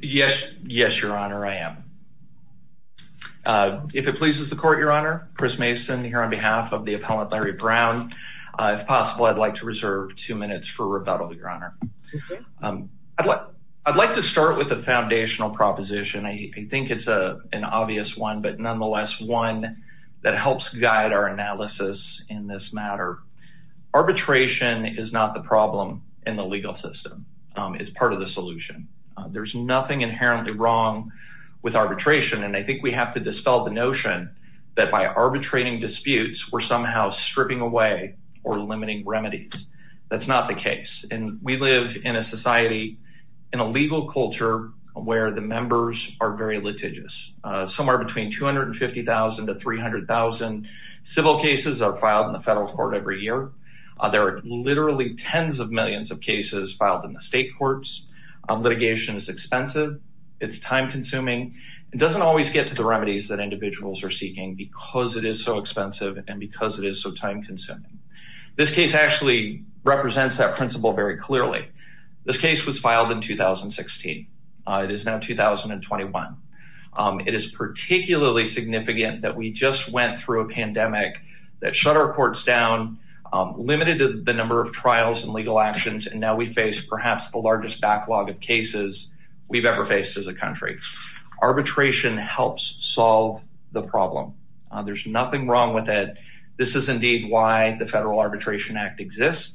Yes, Your Honor, I am. If it pleases the Court, Your Honor, Chris Mason here on behalf of the appellant Larry Brown. If possible, I'd like to reserve two minutes for rebuttal, Your Honor. I'd like to start with a foundational proposition. I think it's an obvious one, but nonetheless one that helps guide our analysis in this matter. Arbitration is not the problem in the legal system. It's part of the solution. There's nothing inherently wrong with arbitration, and I think we have to dispel the notion that by arbitrating disputes, we're somehow stripping away or limiting remedies. That's not the case, and we live in a society in a legal culture where the members are very litigious. Somewhere between 250,000 to 300,000 civil cases are filed in the federal court every year. There are literally tens of millions of cases filed in the state courts. Litigation is expensive. It's time-consuming. It doesn't always get to the remedies that individuals are seeking because it is so expensive and because it is so time-consuming. This case actually represents that principle very clearly. This case was filed in 2016. It is now 2021. It is particularly significant that we just went through a pandemic that shut our courts down, limited the number of trials and legal actions, and now we face perhaps the largest backlog of cases we've ever faced as a country. Arbitration helps solve the problem. There's nothing wrong with it. This is indeed why the Federal Arbitration Act exists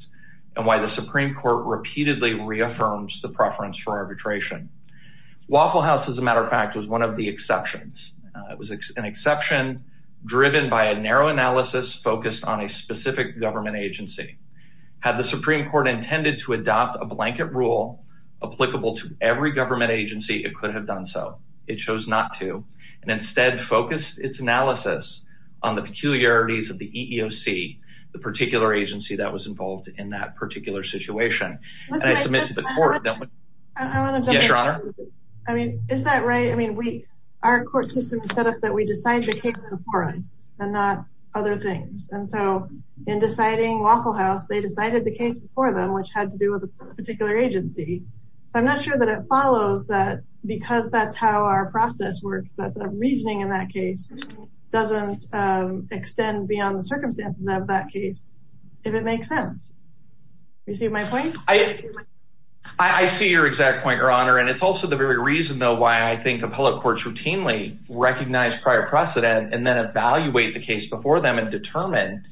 and why the Supreme Court repeatedly reaffirms the preference for arbitration. Waffle House, as a matter of fact, was one of the exceptions. It was an exception driven by a narrow analysis focused on a specific government agency. Had the Supreme Court intended to adopt a blanket rule applicable to every government agency, it could have done so. It chose not to and instead focused its analysis on the peculiarities of the EEOC, the particular agency that was involved in that particular situation. And I submit to the court that... I mean, is that right? I mean, our court system is set up that we decide the case before us and not other things. And so in deciding Waffle House, they decided the case before them, which had to do with a particular agency. So I'm not sure that it follows that because that's how our process works, that the reasoning in that case doesn't extend beyond the circumstances of that case, if it makes sense. Do you see my point? I see your exact point, Your Honor. And it's also the very reason, though, why I think appellate courts routinely recognize prior precedent and then evaluate the case before them and determine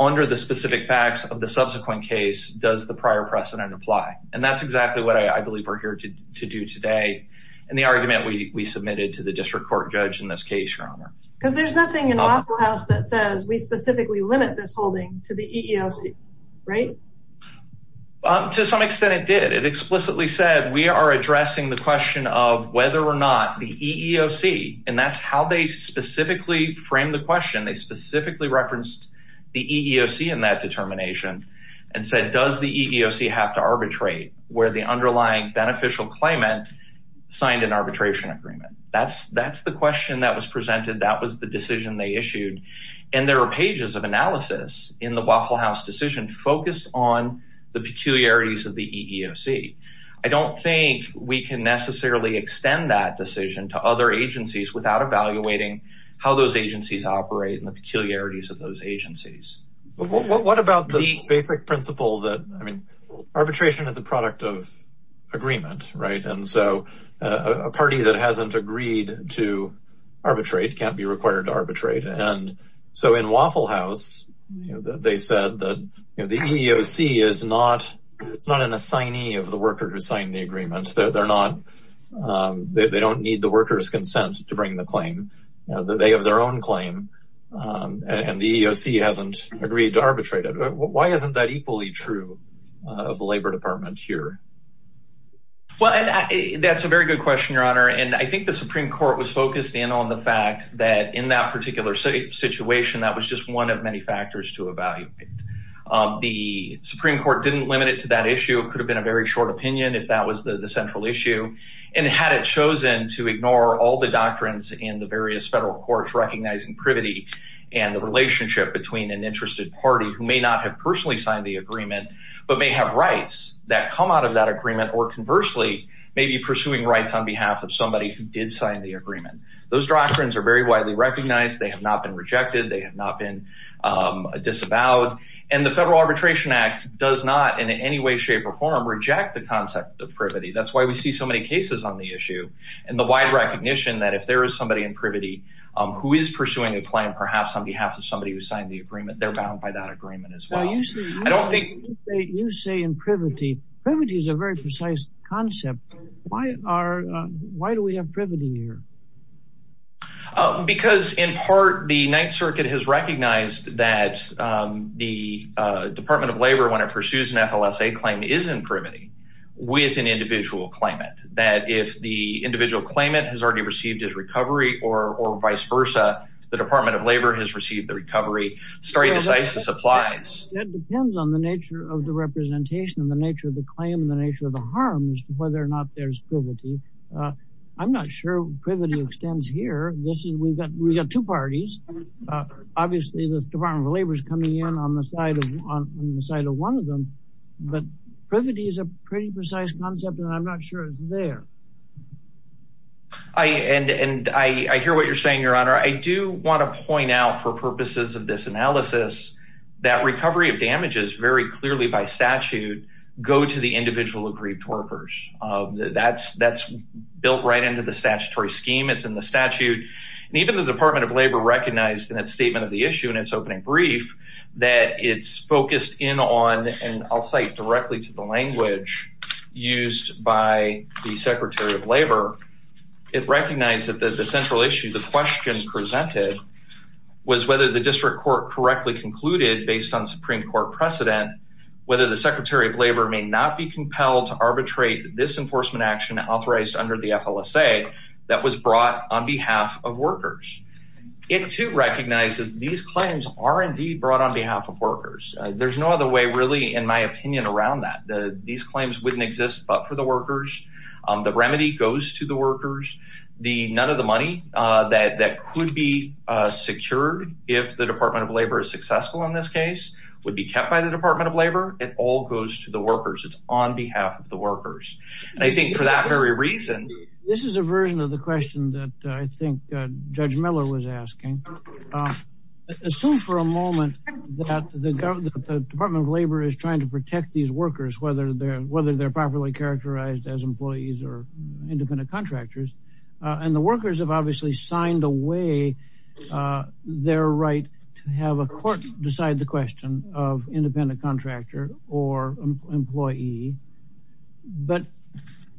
under the specific facts of the subsequent case, does the prior precedent apply. And that's exactly what I believe we're here to do today in the argument we submitted to the district court judge in this case, Your Honor. Because there's nothing in Waffle House that says we specifically limit this holding to the EEOC, right? To some extent it did. It explicitly said we are addressing the question of whether or not the EEOC, and that's how they specifically framed the question. They specifically referenced the EEOC in that determination and said, does the EEOC have to arbitrate where the underlying beneficial claimant signed an arbitration agreement? That's the question that was presented. That was the decision they issued. And there are pages of analysis in the Waffle House decision focused on the peculiarities of the EEOC. I don't think we can necessarily extend that decision to other agencies without evaluating how those agencies operate and the peculiarities of those agencies. What about the basic principle that arbitration is a product of agreement, right? And so a party that hasn't agreed to arbitrate can't be required to arbitrate. And so in Waffle House they said that the EEOC is not an assignee of the worker who signed the agreement. They don't need the worker's consent to bring the claim. They have their own claim and the EEOC hasn't agreed to arbitrate it. Why isn't that equally true of the Labor Department here? That's a very good question, Your Honor, and I think the Supreme Court was focused in on the fact that in that particular situation that was just one of many factors to evaluate. The Supreme Court didn't limit it to that issue. It could have been a very short opinion if that was the central issue. And had it chosen to ignore all the doctrines in the various federal courts recognizing privity and the relationship between an interested party who may not have personally signed the agreement but may have rights that come out of that agreement or conversely maybe pursuing rights on behalf of somebody who did sign the agreement. Those doctrines are very widely recognized. They have not been rejected. They have not been disavowed. And the Federal Arbitration Act does not in any way, shape, or form reject the concept of privity. That's why we see so many cases on the issue and the wide recognition that if there is somebody in privity who is pursuing a claim perhaps on behalf of somebody who signed the agreement, they're bound by that agreement as well. You say in privity. Privity is a very precise concept. Why do we have privity here? Because in part the Ninth Circuit has the Department of Labor when it pursues an FLSA claim is in privity with an individual claimant. That if the individual claimant has already received his recovery or vice versa the Department of Labor has received the recovery. That depends on the nature of the representation and the nature of the claim and the nature of the harm as to whether or not there's privity. I'm not sure privity extends here. We've got two parties. Obviously the Department of Labor is coming in on the side of one of them, but privity is a pretty precise concept and I'm not sure it's there. I hear what you're saying, Your Honor. I do want to point out for purposes of this analysis that recovery of damages very clearly by statute go to the individual aggrieved torpors. That's built right into the statutory scheme. It's in the statute. Even the Department of Labor recognized in its statement of the issue in its opening brief that it's focused in on, and I'll cite directly to the language used by the Secretary of Labor it recognized that the central issue, the question presented was whether the district court correctly concluded based on Supreme Court precedent whether the Secretary of Labor may not be compelled to arbitrate this enforcement action authorized under the FLSA that was brought on behalf of workers. It too recognizes these claims are indeed brought on behalf of workers. There's no other way really in my opinion around that. These claims wouldn't exist but for the workers. The remedy goes to the workers. None of the money that could be secured if the Department of Labor is successful in this case would be kept by the Department of Labor. It all goes to the workers. It's on behalf of the workers. I think for that very reason... This is a version of the question that I think Judge Miller was asking. Assume for a moment that the Department of Labor is trying to protect these workers whether they're properly characterized as employees or independent contractors, and the workers have obviously signed away their right to have a court decide the question of independent contractor or employee, but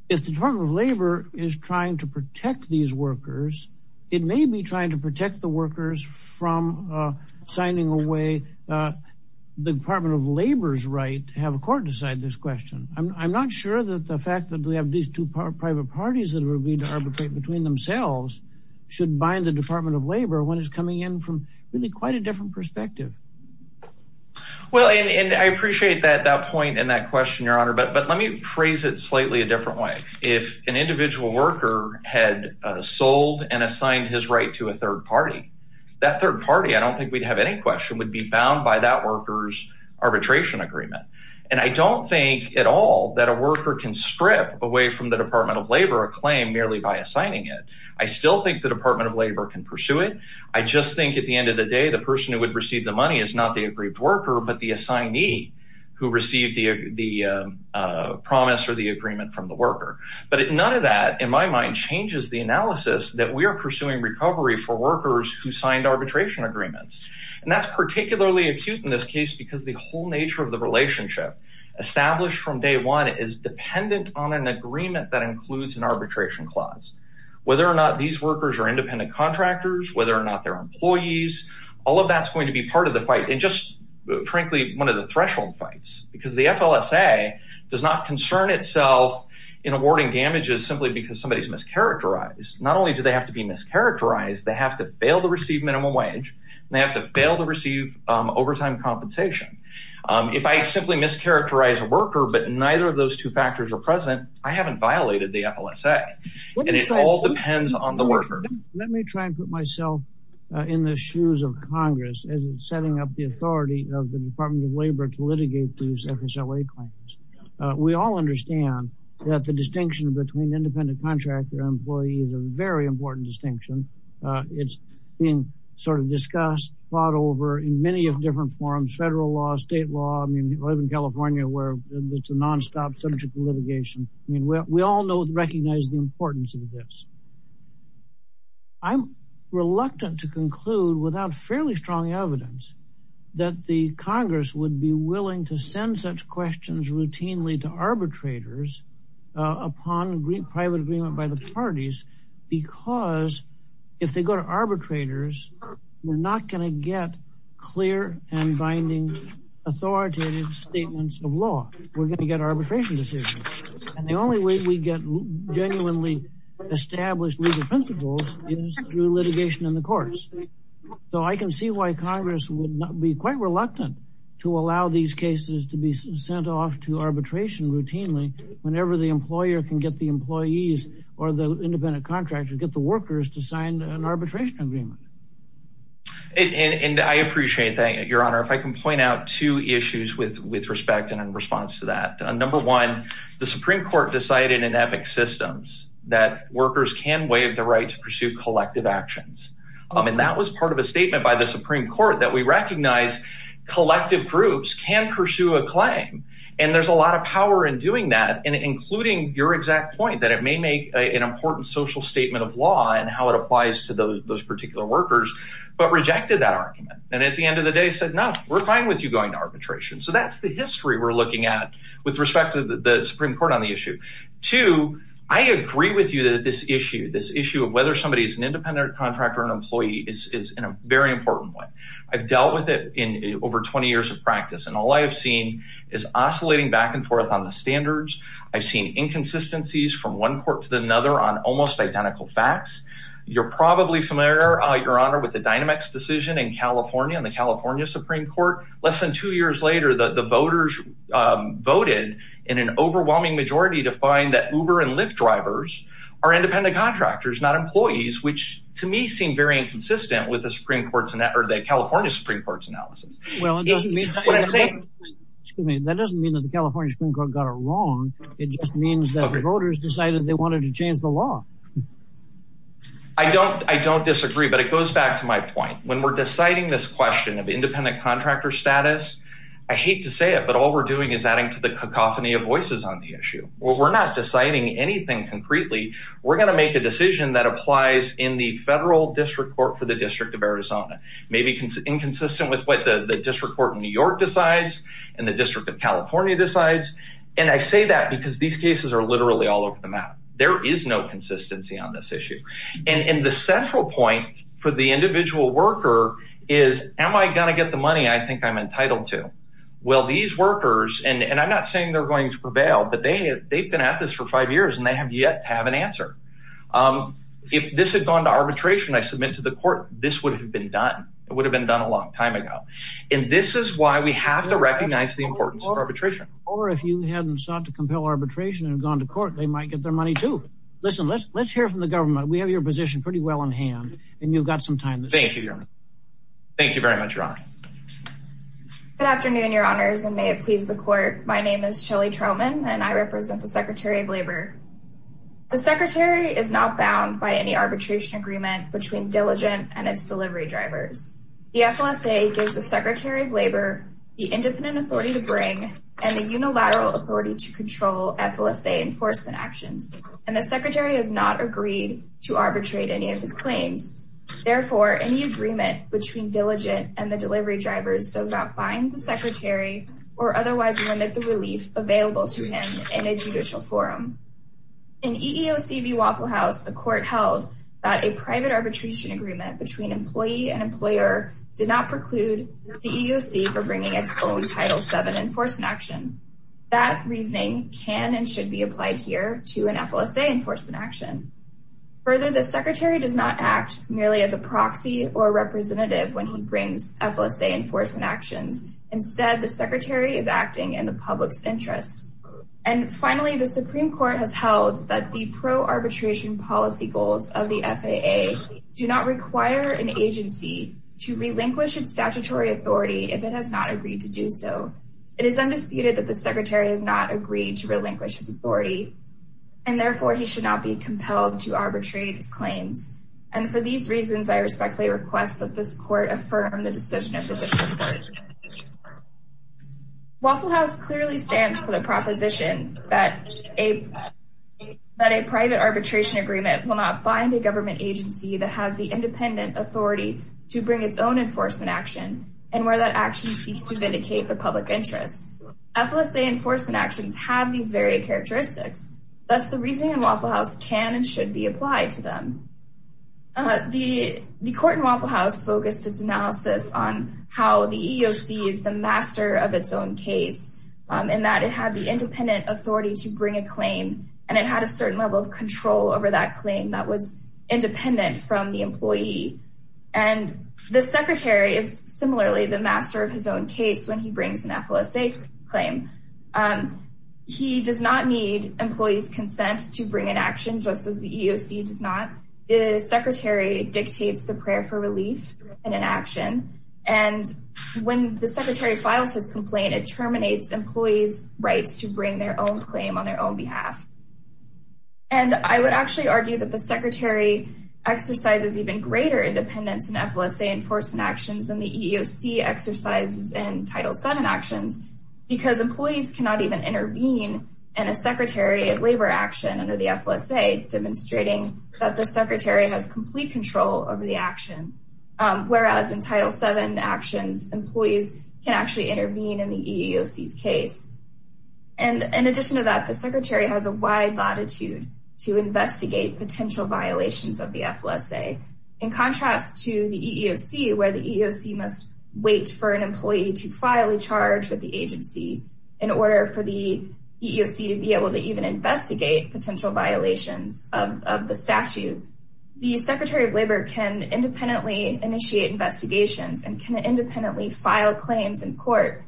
if the Department of Labor is trying to protect these workers, it may be trying to protect the workers from signing away the Department of Labor's right to have a court decide this question. I'm not sure that the fact that we have these two private parties that are going to arbitrate between themselves should bind the Department of Labor when it's coming in from really quite a different perspective. Well, and I appreciate that point and that question, Your Honor, but let me phrase it slightly a different way. If an individual worker had sold and assigned his right to a third party, that third party, I don't think we'd have any question, would be bound by that worker's arbitration agreement. And I don't think at all that a worker can strip away from the Department of Labor a claim merely by assigning it. I still think the Department of Labor can pursue it. I just think at the moment the money is not the aggrieved worker, but the assignee who received the promise or the agreement from the worker. But none of that, in my mind, changes the analysis that we are pursuing recovery for workers who signed arbitration agreements. And that's particularly acute in this case because the whole nature of the relationship established from day one is dependent on an agreement that includes an arbitration clause. Whether or not these workers are independent contractors, whether or not they're employees, all of that's going to be part of the fight and just, frankly, one of the threshold fights. Because the FLSA does not concern itself in awarding damages simply because somebody's mischaracterized. Not only do they have to be mischaracterized, they have to fail to receive minimum wage and they have to fail to receive overtime compensation. If I simply mischaracterize a worker but neither of those two factors are present, I haven't violated the FLSA. And it all depends on the worker. Let me try and put myself in the shoes of Congress as in setting up the authority of the Department of Labor to litigate these FSLA claims. We all understand that the distinction between independent contractor and employee is a very important distinction. It's being sort of discussed, fought over in many of different forums, federal law, state law. I mean, I live in California where it's a nonstop, centric litigation. I mean, we all know and recognize the importance of this. I'm reluctant to conclude without fairly strong evidence that the Congress would be willing to send such questions routinely to arbitrators upon private agreement by the parties because if they go to arbitrators, we're not going to get clear and binding authoritative statements of law. We're going to get arbitration decisions. And the only way we get genuinely established legal principles is through litigation in the courts. So I can see why Congress would be quite reluctant to allow these cases to be sent off to arbitration routinely whenever the employer can get the employees or the independent contractor to get the workers to sign an arbitration agreement. And I appreciate that, Your Honor. If I can point out two issues with respect and in response to that. Number one, the Supreme Court decided in ethic systems that workers can waive the right to pursue collective actions. And that was part of a statement by the Supreme Court that we recognize collective groups can pursue a claim. And there's a lot of power in doing that and including your exact point that it may make an important social statement of law and how it applies to those particular workers, but rejected that argument. And at the end of the day said, no, we're fine with you going to arbitration. So that's the history we're looking at with respect to the Supreme Court on the issue. Two, I agree with you that this issue, this issue of whether somebody is an independent contractor, an employee is in a very important way. I've dealt with it in over 20 years of practice, and all I have seen is oscillating back and forth on the standards. I've seen inconsistencies from one court to another on almost identical facts. You're probably familiar, Your Honor, with the Dynamex decision in California and the California Supreme Court. Less than two years later, the voters voted in an overwhelming majority to find that Uber and Lyft drivers are independent contractors, not employees, which to me seem very inconsistent with the California Supreme Court's analysis. That doesn't mean that the California Supreme Court got it wrong. It just means that the voters decided they wanted to change the law. I don't disagree, but it goes back to my point. When we're deciding this question of independent contractor status, I hate to say it, but all we're doing is adding to the cacophony of voices on the issue. We're not deciding anything concretely. We're going to make a decision that applies in the federal district court for the District of Arizona, maybe inconsistent with what the District Court in New York decides and the District of California decides. I say that because these cases are literally all over the map. There is no consistency on this issue. The central point for the individual worker is, am I going to get the money I think I'm entitled to? Well, these workers, and I'm not saying they're going to prevail, but they've been at this for five years and they have yet to have an answer. If this had gone to arbitration, I submit to the court this would have been done. It would have been done a long time ago. This is why we have to recognize the importance of arbitration. Or if you hadn't sought to compel arbitration and gone to court, they might get their money too. Listen, let's hear from the position pretty well in hand, and you've got some time. Thank you, Your Honor. Thank you very much, Your Honor. Good afternoon, Your Honors, and may it please the court. My name is Shelley Troman, and I represent the Secretary of Labor. The Secretary is not bound by any arbitration agreement between diligent and its delivery drivers. The FLSA gives the Secretary of Labor the independent authority to bring and the unilateral authority to control FLSA enforcement actions, and the Secretary has not agreed to arbitrate any of his claims. Therefore, any agreement between diligent and the delivery drivers does not bind the Secretary or otherwise limit the relief available to him in a judicial forum. In EEOC v. Waffle House, the court held that a private arbitration agreement between employee and employer did not preclude the EEOC from bringing its own Title VII enforcement action. That reasoning can and should be applied here to an FLSA enforcement action. Further, the Secretary does not act merely as a proxy or representative when he brings FLSA enforcement actions. Instead, the Secretary is acting in the public's interest. And finally, the Supreme Court has held that the pro-arbitration policy goals of the FAA do not require an agency to relinquish its statutory authority if it has not agreed to do so. It is undisputed that the Secretary has not agreed to relinquish his authority, and therefore he should not be compelled to arbitrate his claims. And for these reasons, I respectfully request that this Court affirm the decision of the District Court. Waffle House clearly stands for the proposition that a private arbitration agreement will not bind a government agency that has the independent authority to bring its own enforcement action, and where that action seeks to vindicate the public interest. FLSA enforcement actions have these varied characteristics. Thus, the reasoning in Waffle House can and should be applied to them. The Court in Waffle House focused its analysis on how the EEOC is the master of its own case, in that it had the independent authority to bring a claim, and it had a certain level of control over that claim that was independent from the employee. And the Secretary is similarly the master of his own case when he brings an FLSA claim. He does not need employees' consent to bring an action, just as the EEOC does not. The Secretary dictates the prayer for relief in an action, and when the Secretary files his complaint, it terminates employees' rights to bring their own claim on their own behalf. And I would actually argue that the Secretary exercises even greater independence in FLSA enforcement actions than the EEOC exercises in Title VII actions, because employees cannot even intervene in a Secretary of Labor action under the FLSA, demonstrating that the Secretary has complete control over the action, whereas in Title VII actions employees can actually intervene in the EEOC's case. And in addition to that, the Secretary has a wide latitude to investigate potential violations of the FLSA, in contrast to the EEOC, where the EEOC must wait for an employee to file a charge with the agency in order for the EEOC to be able to even investigate potential violations of the statute. The Secretary of Labor can independently initiate investigations and can independently file claims in court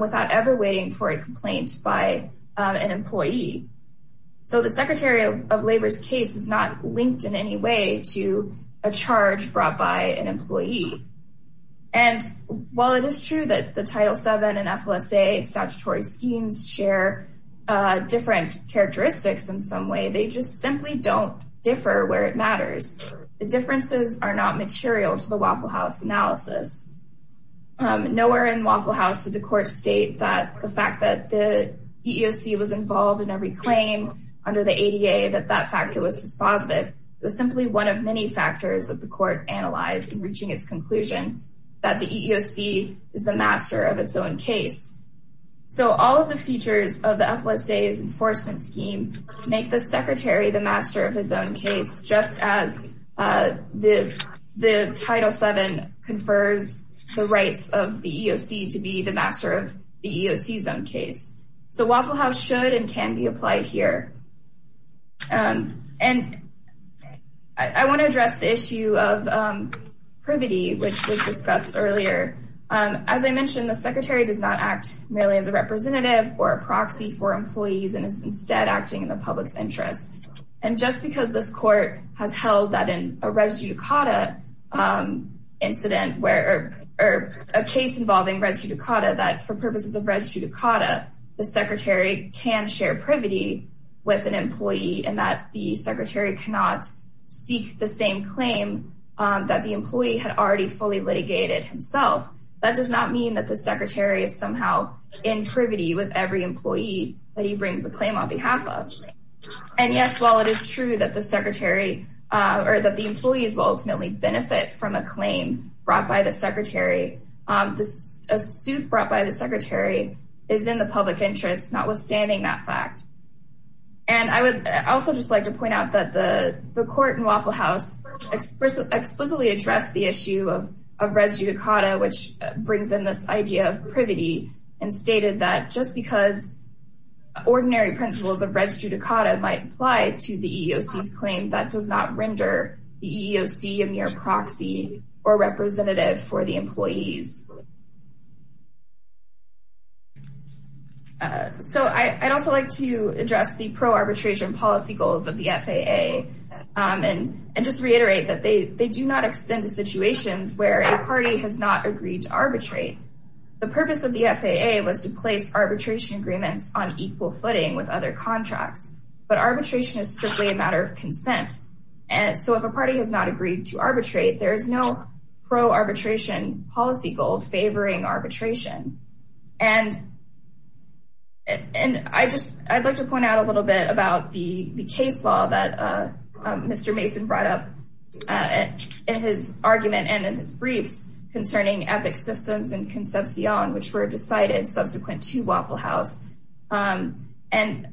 without ever waiting for a complaint by an employee. So the Secretary of Labor's case is not linked in any way to a charge brought by an employee. And while it is true that the Title VII and FLSA statutory schemes share different characteristics in some way, they just simply don't differ where it matters. The differences are not material to the Waffle House analysis. Nowhere in Waffle House did the Court state that the fact that the EEOC was involved in every claim under the ADA, that that factor was dispositive. It was simply one of many factors that the Court analyzed in reaching its conclusion that the EEOC is the master of its own case. So all of the features of the FLSA's enforcement scheme make the Secretary the master of his own case just as the Title VII confers the rights of the EEOC to be the master of the EEOC's own case. So Waffle House should and can be applied here. And I want to address the issue of privity, which was discussed earlier. As I mentioned, the Secretary does not act merely as a representative or a proxy for employees, and is instead acting in the public's interest. And just because this Court has held that in a res judicata incident, or a case involving res judicata, that for purposes of res judicata, the Secretary can share privity with an employee, and that the Secretary cannot seek the same claim that the employee had already fully litigated himself, that does not mean that the Secretary is somehow in privity with every employee that he brings a claim on behalf of. And yes, while it is true that the Secretary or that the employees will ultimately benefit from a claim brought by the Secretary, a suit brought by the Secretary is in the public interest, notwithstanding that fact. And I would also just like to point out that the Court in Waffle House explicitly addressed the issue of res judicata, which brings in this idea of privity, and stated that just because ordinary principles of res judicata might apply to the EEOC's claim, that does not render the EEOC a mere proxy or representative for the employees. So, I'd also like to address the pro-arbitration policy goals of the FAA, and just reiterate that they do not extend to situations where a party has not agreed to arbitrate. The purpose of the FAA was to place arbitration agreements on equal footing with other contracts, but arbitration is strictly a matter of consent, so if a party has not agreed to arbitrate, there is no pro-arbitration policy goal favoring arbitration. And I'd like to point out a little bit about the case law that Mr. Mason brought up in his argument and in his briefs concerning EPIC systems and Concepcion, which were decided subsequent to Waffle House. And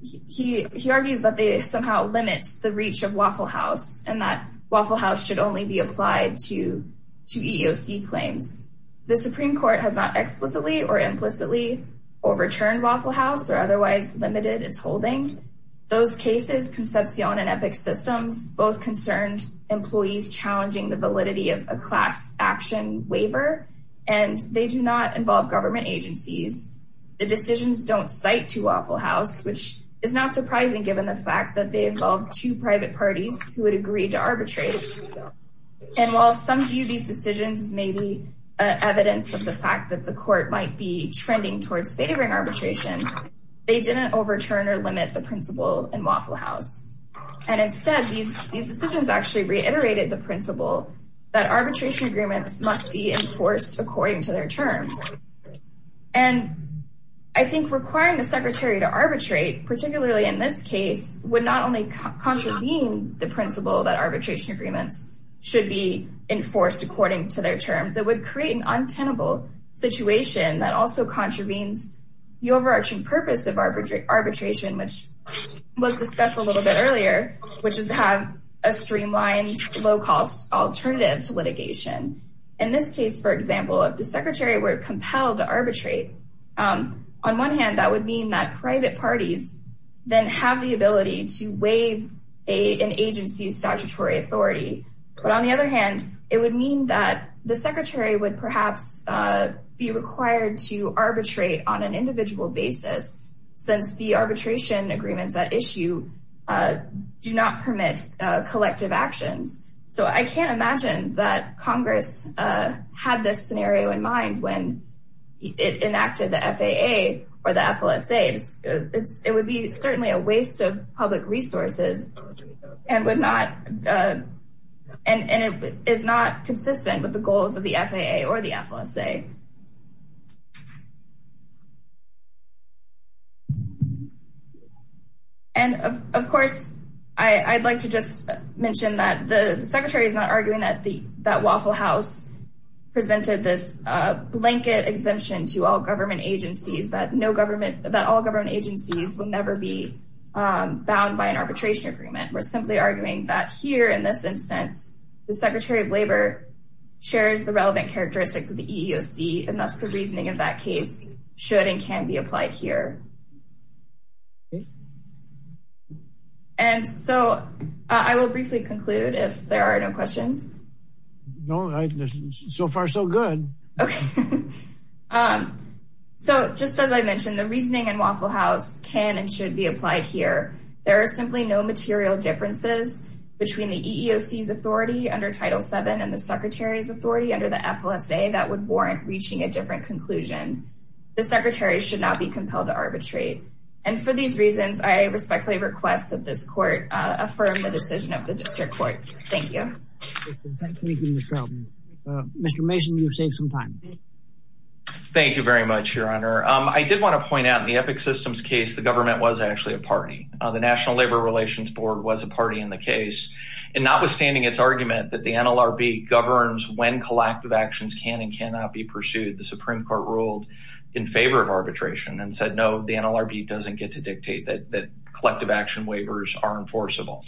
he argues that they somehow limit the reach of Waffle House, and that Waffle House should only be applied to EEOC claims. The Supreme Court has not explicitly or implicitly overturned Waffle House or otherwise limited its holding. Those cases, Concepcion and EPIC systems, both concerned employees challenging the validity of a class action waiver, and they do not involve government agencies. The decisions don't cite to Waffle House, which is not surprising given the fact that they involve two private parties who would agree to arbitrate. And while some view these decisions as maybe evidence of the fact that the court might be trending towards favoring arbitration, they didn't overturn or limit the principle in Waffle House. And instead, these decisions actually reiterated the principle that arbitration agreements must be enforced according to their terms. And I think requiring the Secretary to arbitrate, particularly in this case, would not only contravene the principle that arbitration agreements should be enforced according to their terms, it would create an untenable situation that also contravenes the overarching purpose of arbitration, which was discussed a little bit earlier, which is to have a streamlined, low-cost alternative to litigation. In this case, for example, if the Secretary were compelled to arbitrate, on one hand, that would mean that private parties then have the ability to waive an agency's statutory authority. But on the other hand, it would mean that the Secretary would perhaps be required to arbitrate on an individual basis, since the arbitration agreements at issue do not permit collective actions. So I can't imagine that Congress had this scenario in mind when it enacted the FAA or the FLSA. It would be certainly a waste of public resources and would not and it is not consistent with the goals of the FAA or the FLSA. And of course, I'd like to just mention that the Secretary is not arguing that Waffle House presented this blanket exemption to all government agencies, that all government agencies would never be bound by an arbitration agreement. We're simply arguing that here, in this instance, the Secretary of Labor shares the relevant characteristics of the EEOC, and thus the reasoning of that case should and can be applied here. And so, I will briefly conclude if there are no questions. No, so far so good. So, just as I mentioned, the reasoning in Waffle House can and should be applied here. There are simply no material differences between the EEOC's authority under Title VII and the Secretary's authority under the FLSA that would warrant reaching a different conclusion. The Secretary should not be compelled to arbitrate. And for these reasons, I respectfully request that this Court affirm the decision of the District Court. Thank you. Mr. Mason, you've saved some time. Thank you very much, Your Honor. I did want to point out in the Epic Systems case, the government was actually a party. The National Labor Relations Board was a party in the case. And notwithstanding its argument that the NLRB governs when collective actions can and cannot be pursued, the Supreme Court ruled in favor of arbitration and said, no, the NLRB doesn't get to dictate that collective action waivers are enforceable.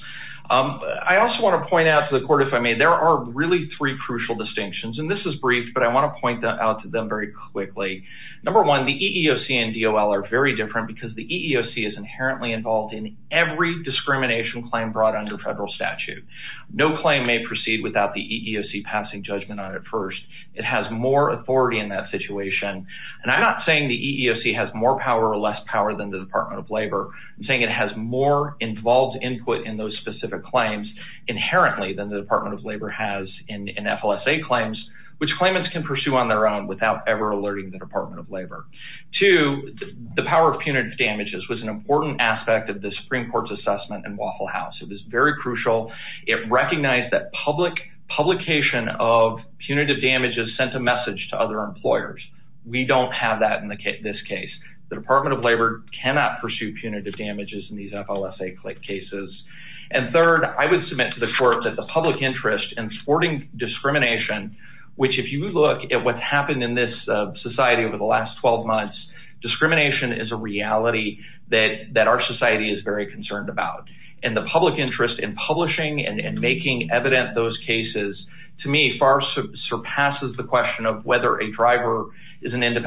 I also want to point out to the Court, if I may, there are really three crucial distinctions. And this is brief, but I want to point out to them very quickly. Number one, the EEOC and DOL are very different because the EEOC is inherently involved in every discrimination claim brought under federal statute. No claim may proceed without the EEOC passing judgment on it first. It has more authority in that situation. And I'm not saying the EEOC has more power or less power than the Department of Labor. I'm saying it has more involved input in those specific claims inherently than the Department of Labor has in FLSA claims, which claimants can pursue on their own without ever alerting the Department of Labor. Two, the power of punitive damages was an important aspect of the Supreme Court's assessment in Waffle House. It was very crucial. It recognized that publication of punitive damages sent a message to other employers. We don't have that in this case. The Department of Labor cannot pursue punitive damages in these FLSA cases. And third, I would submit to the Court that the public interest in thwarting discrimination, which if you look at what's happened in this society over the last 12 months, discrimination is a reality that our society is very concerned about. And the public interest in publishing and making evident those cases, to me, far surpasses the question of whether a driver is an individual.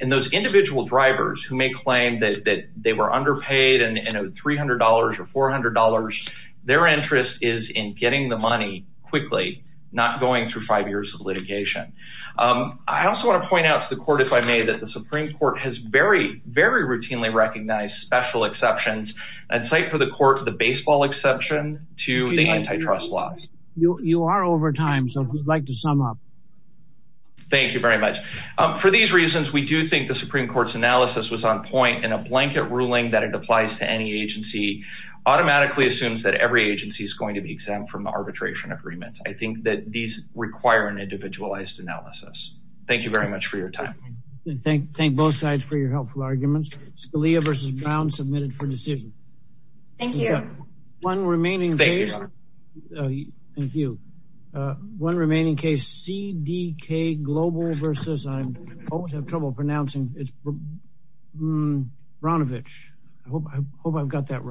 And those individual drivers who may claim that they were underpaid and owed $300 or $400, their interest is in getting the money quickly, not going through five years of litigation. I also want to point out to the Court, if I may, that the Supreme Court has very, very routinely recognized special exceptions. I'd cite for the Court the baseball exception to the antitrust laws. You are over time, so if you'd like to sum up. Thank you very much. For these reasons, we do think the Supreme Court's analysis was on point in a blanket ruling that it applies to any agency automatically assumes that every agency is going to be exempt from arbitration agreements. I think that these require an individualized analysis. Thank you very much for your time. Thank both sides for your helpful arguments. Scalia v. Brown, submitted for decision. Thank you. One remaining case. CDK Global versus I always have trouble pronouncing. It's Branovich. I hope I've got that right.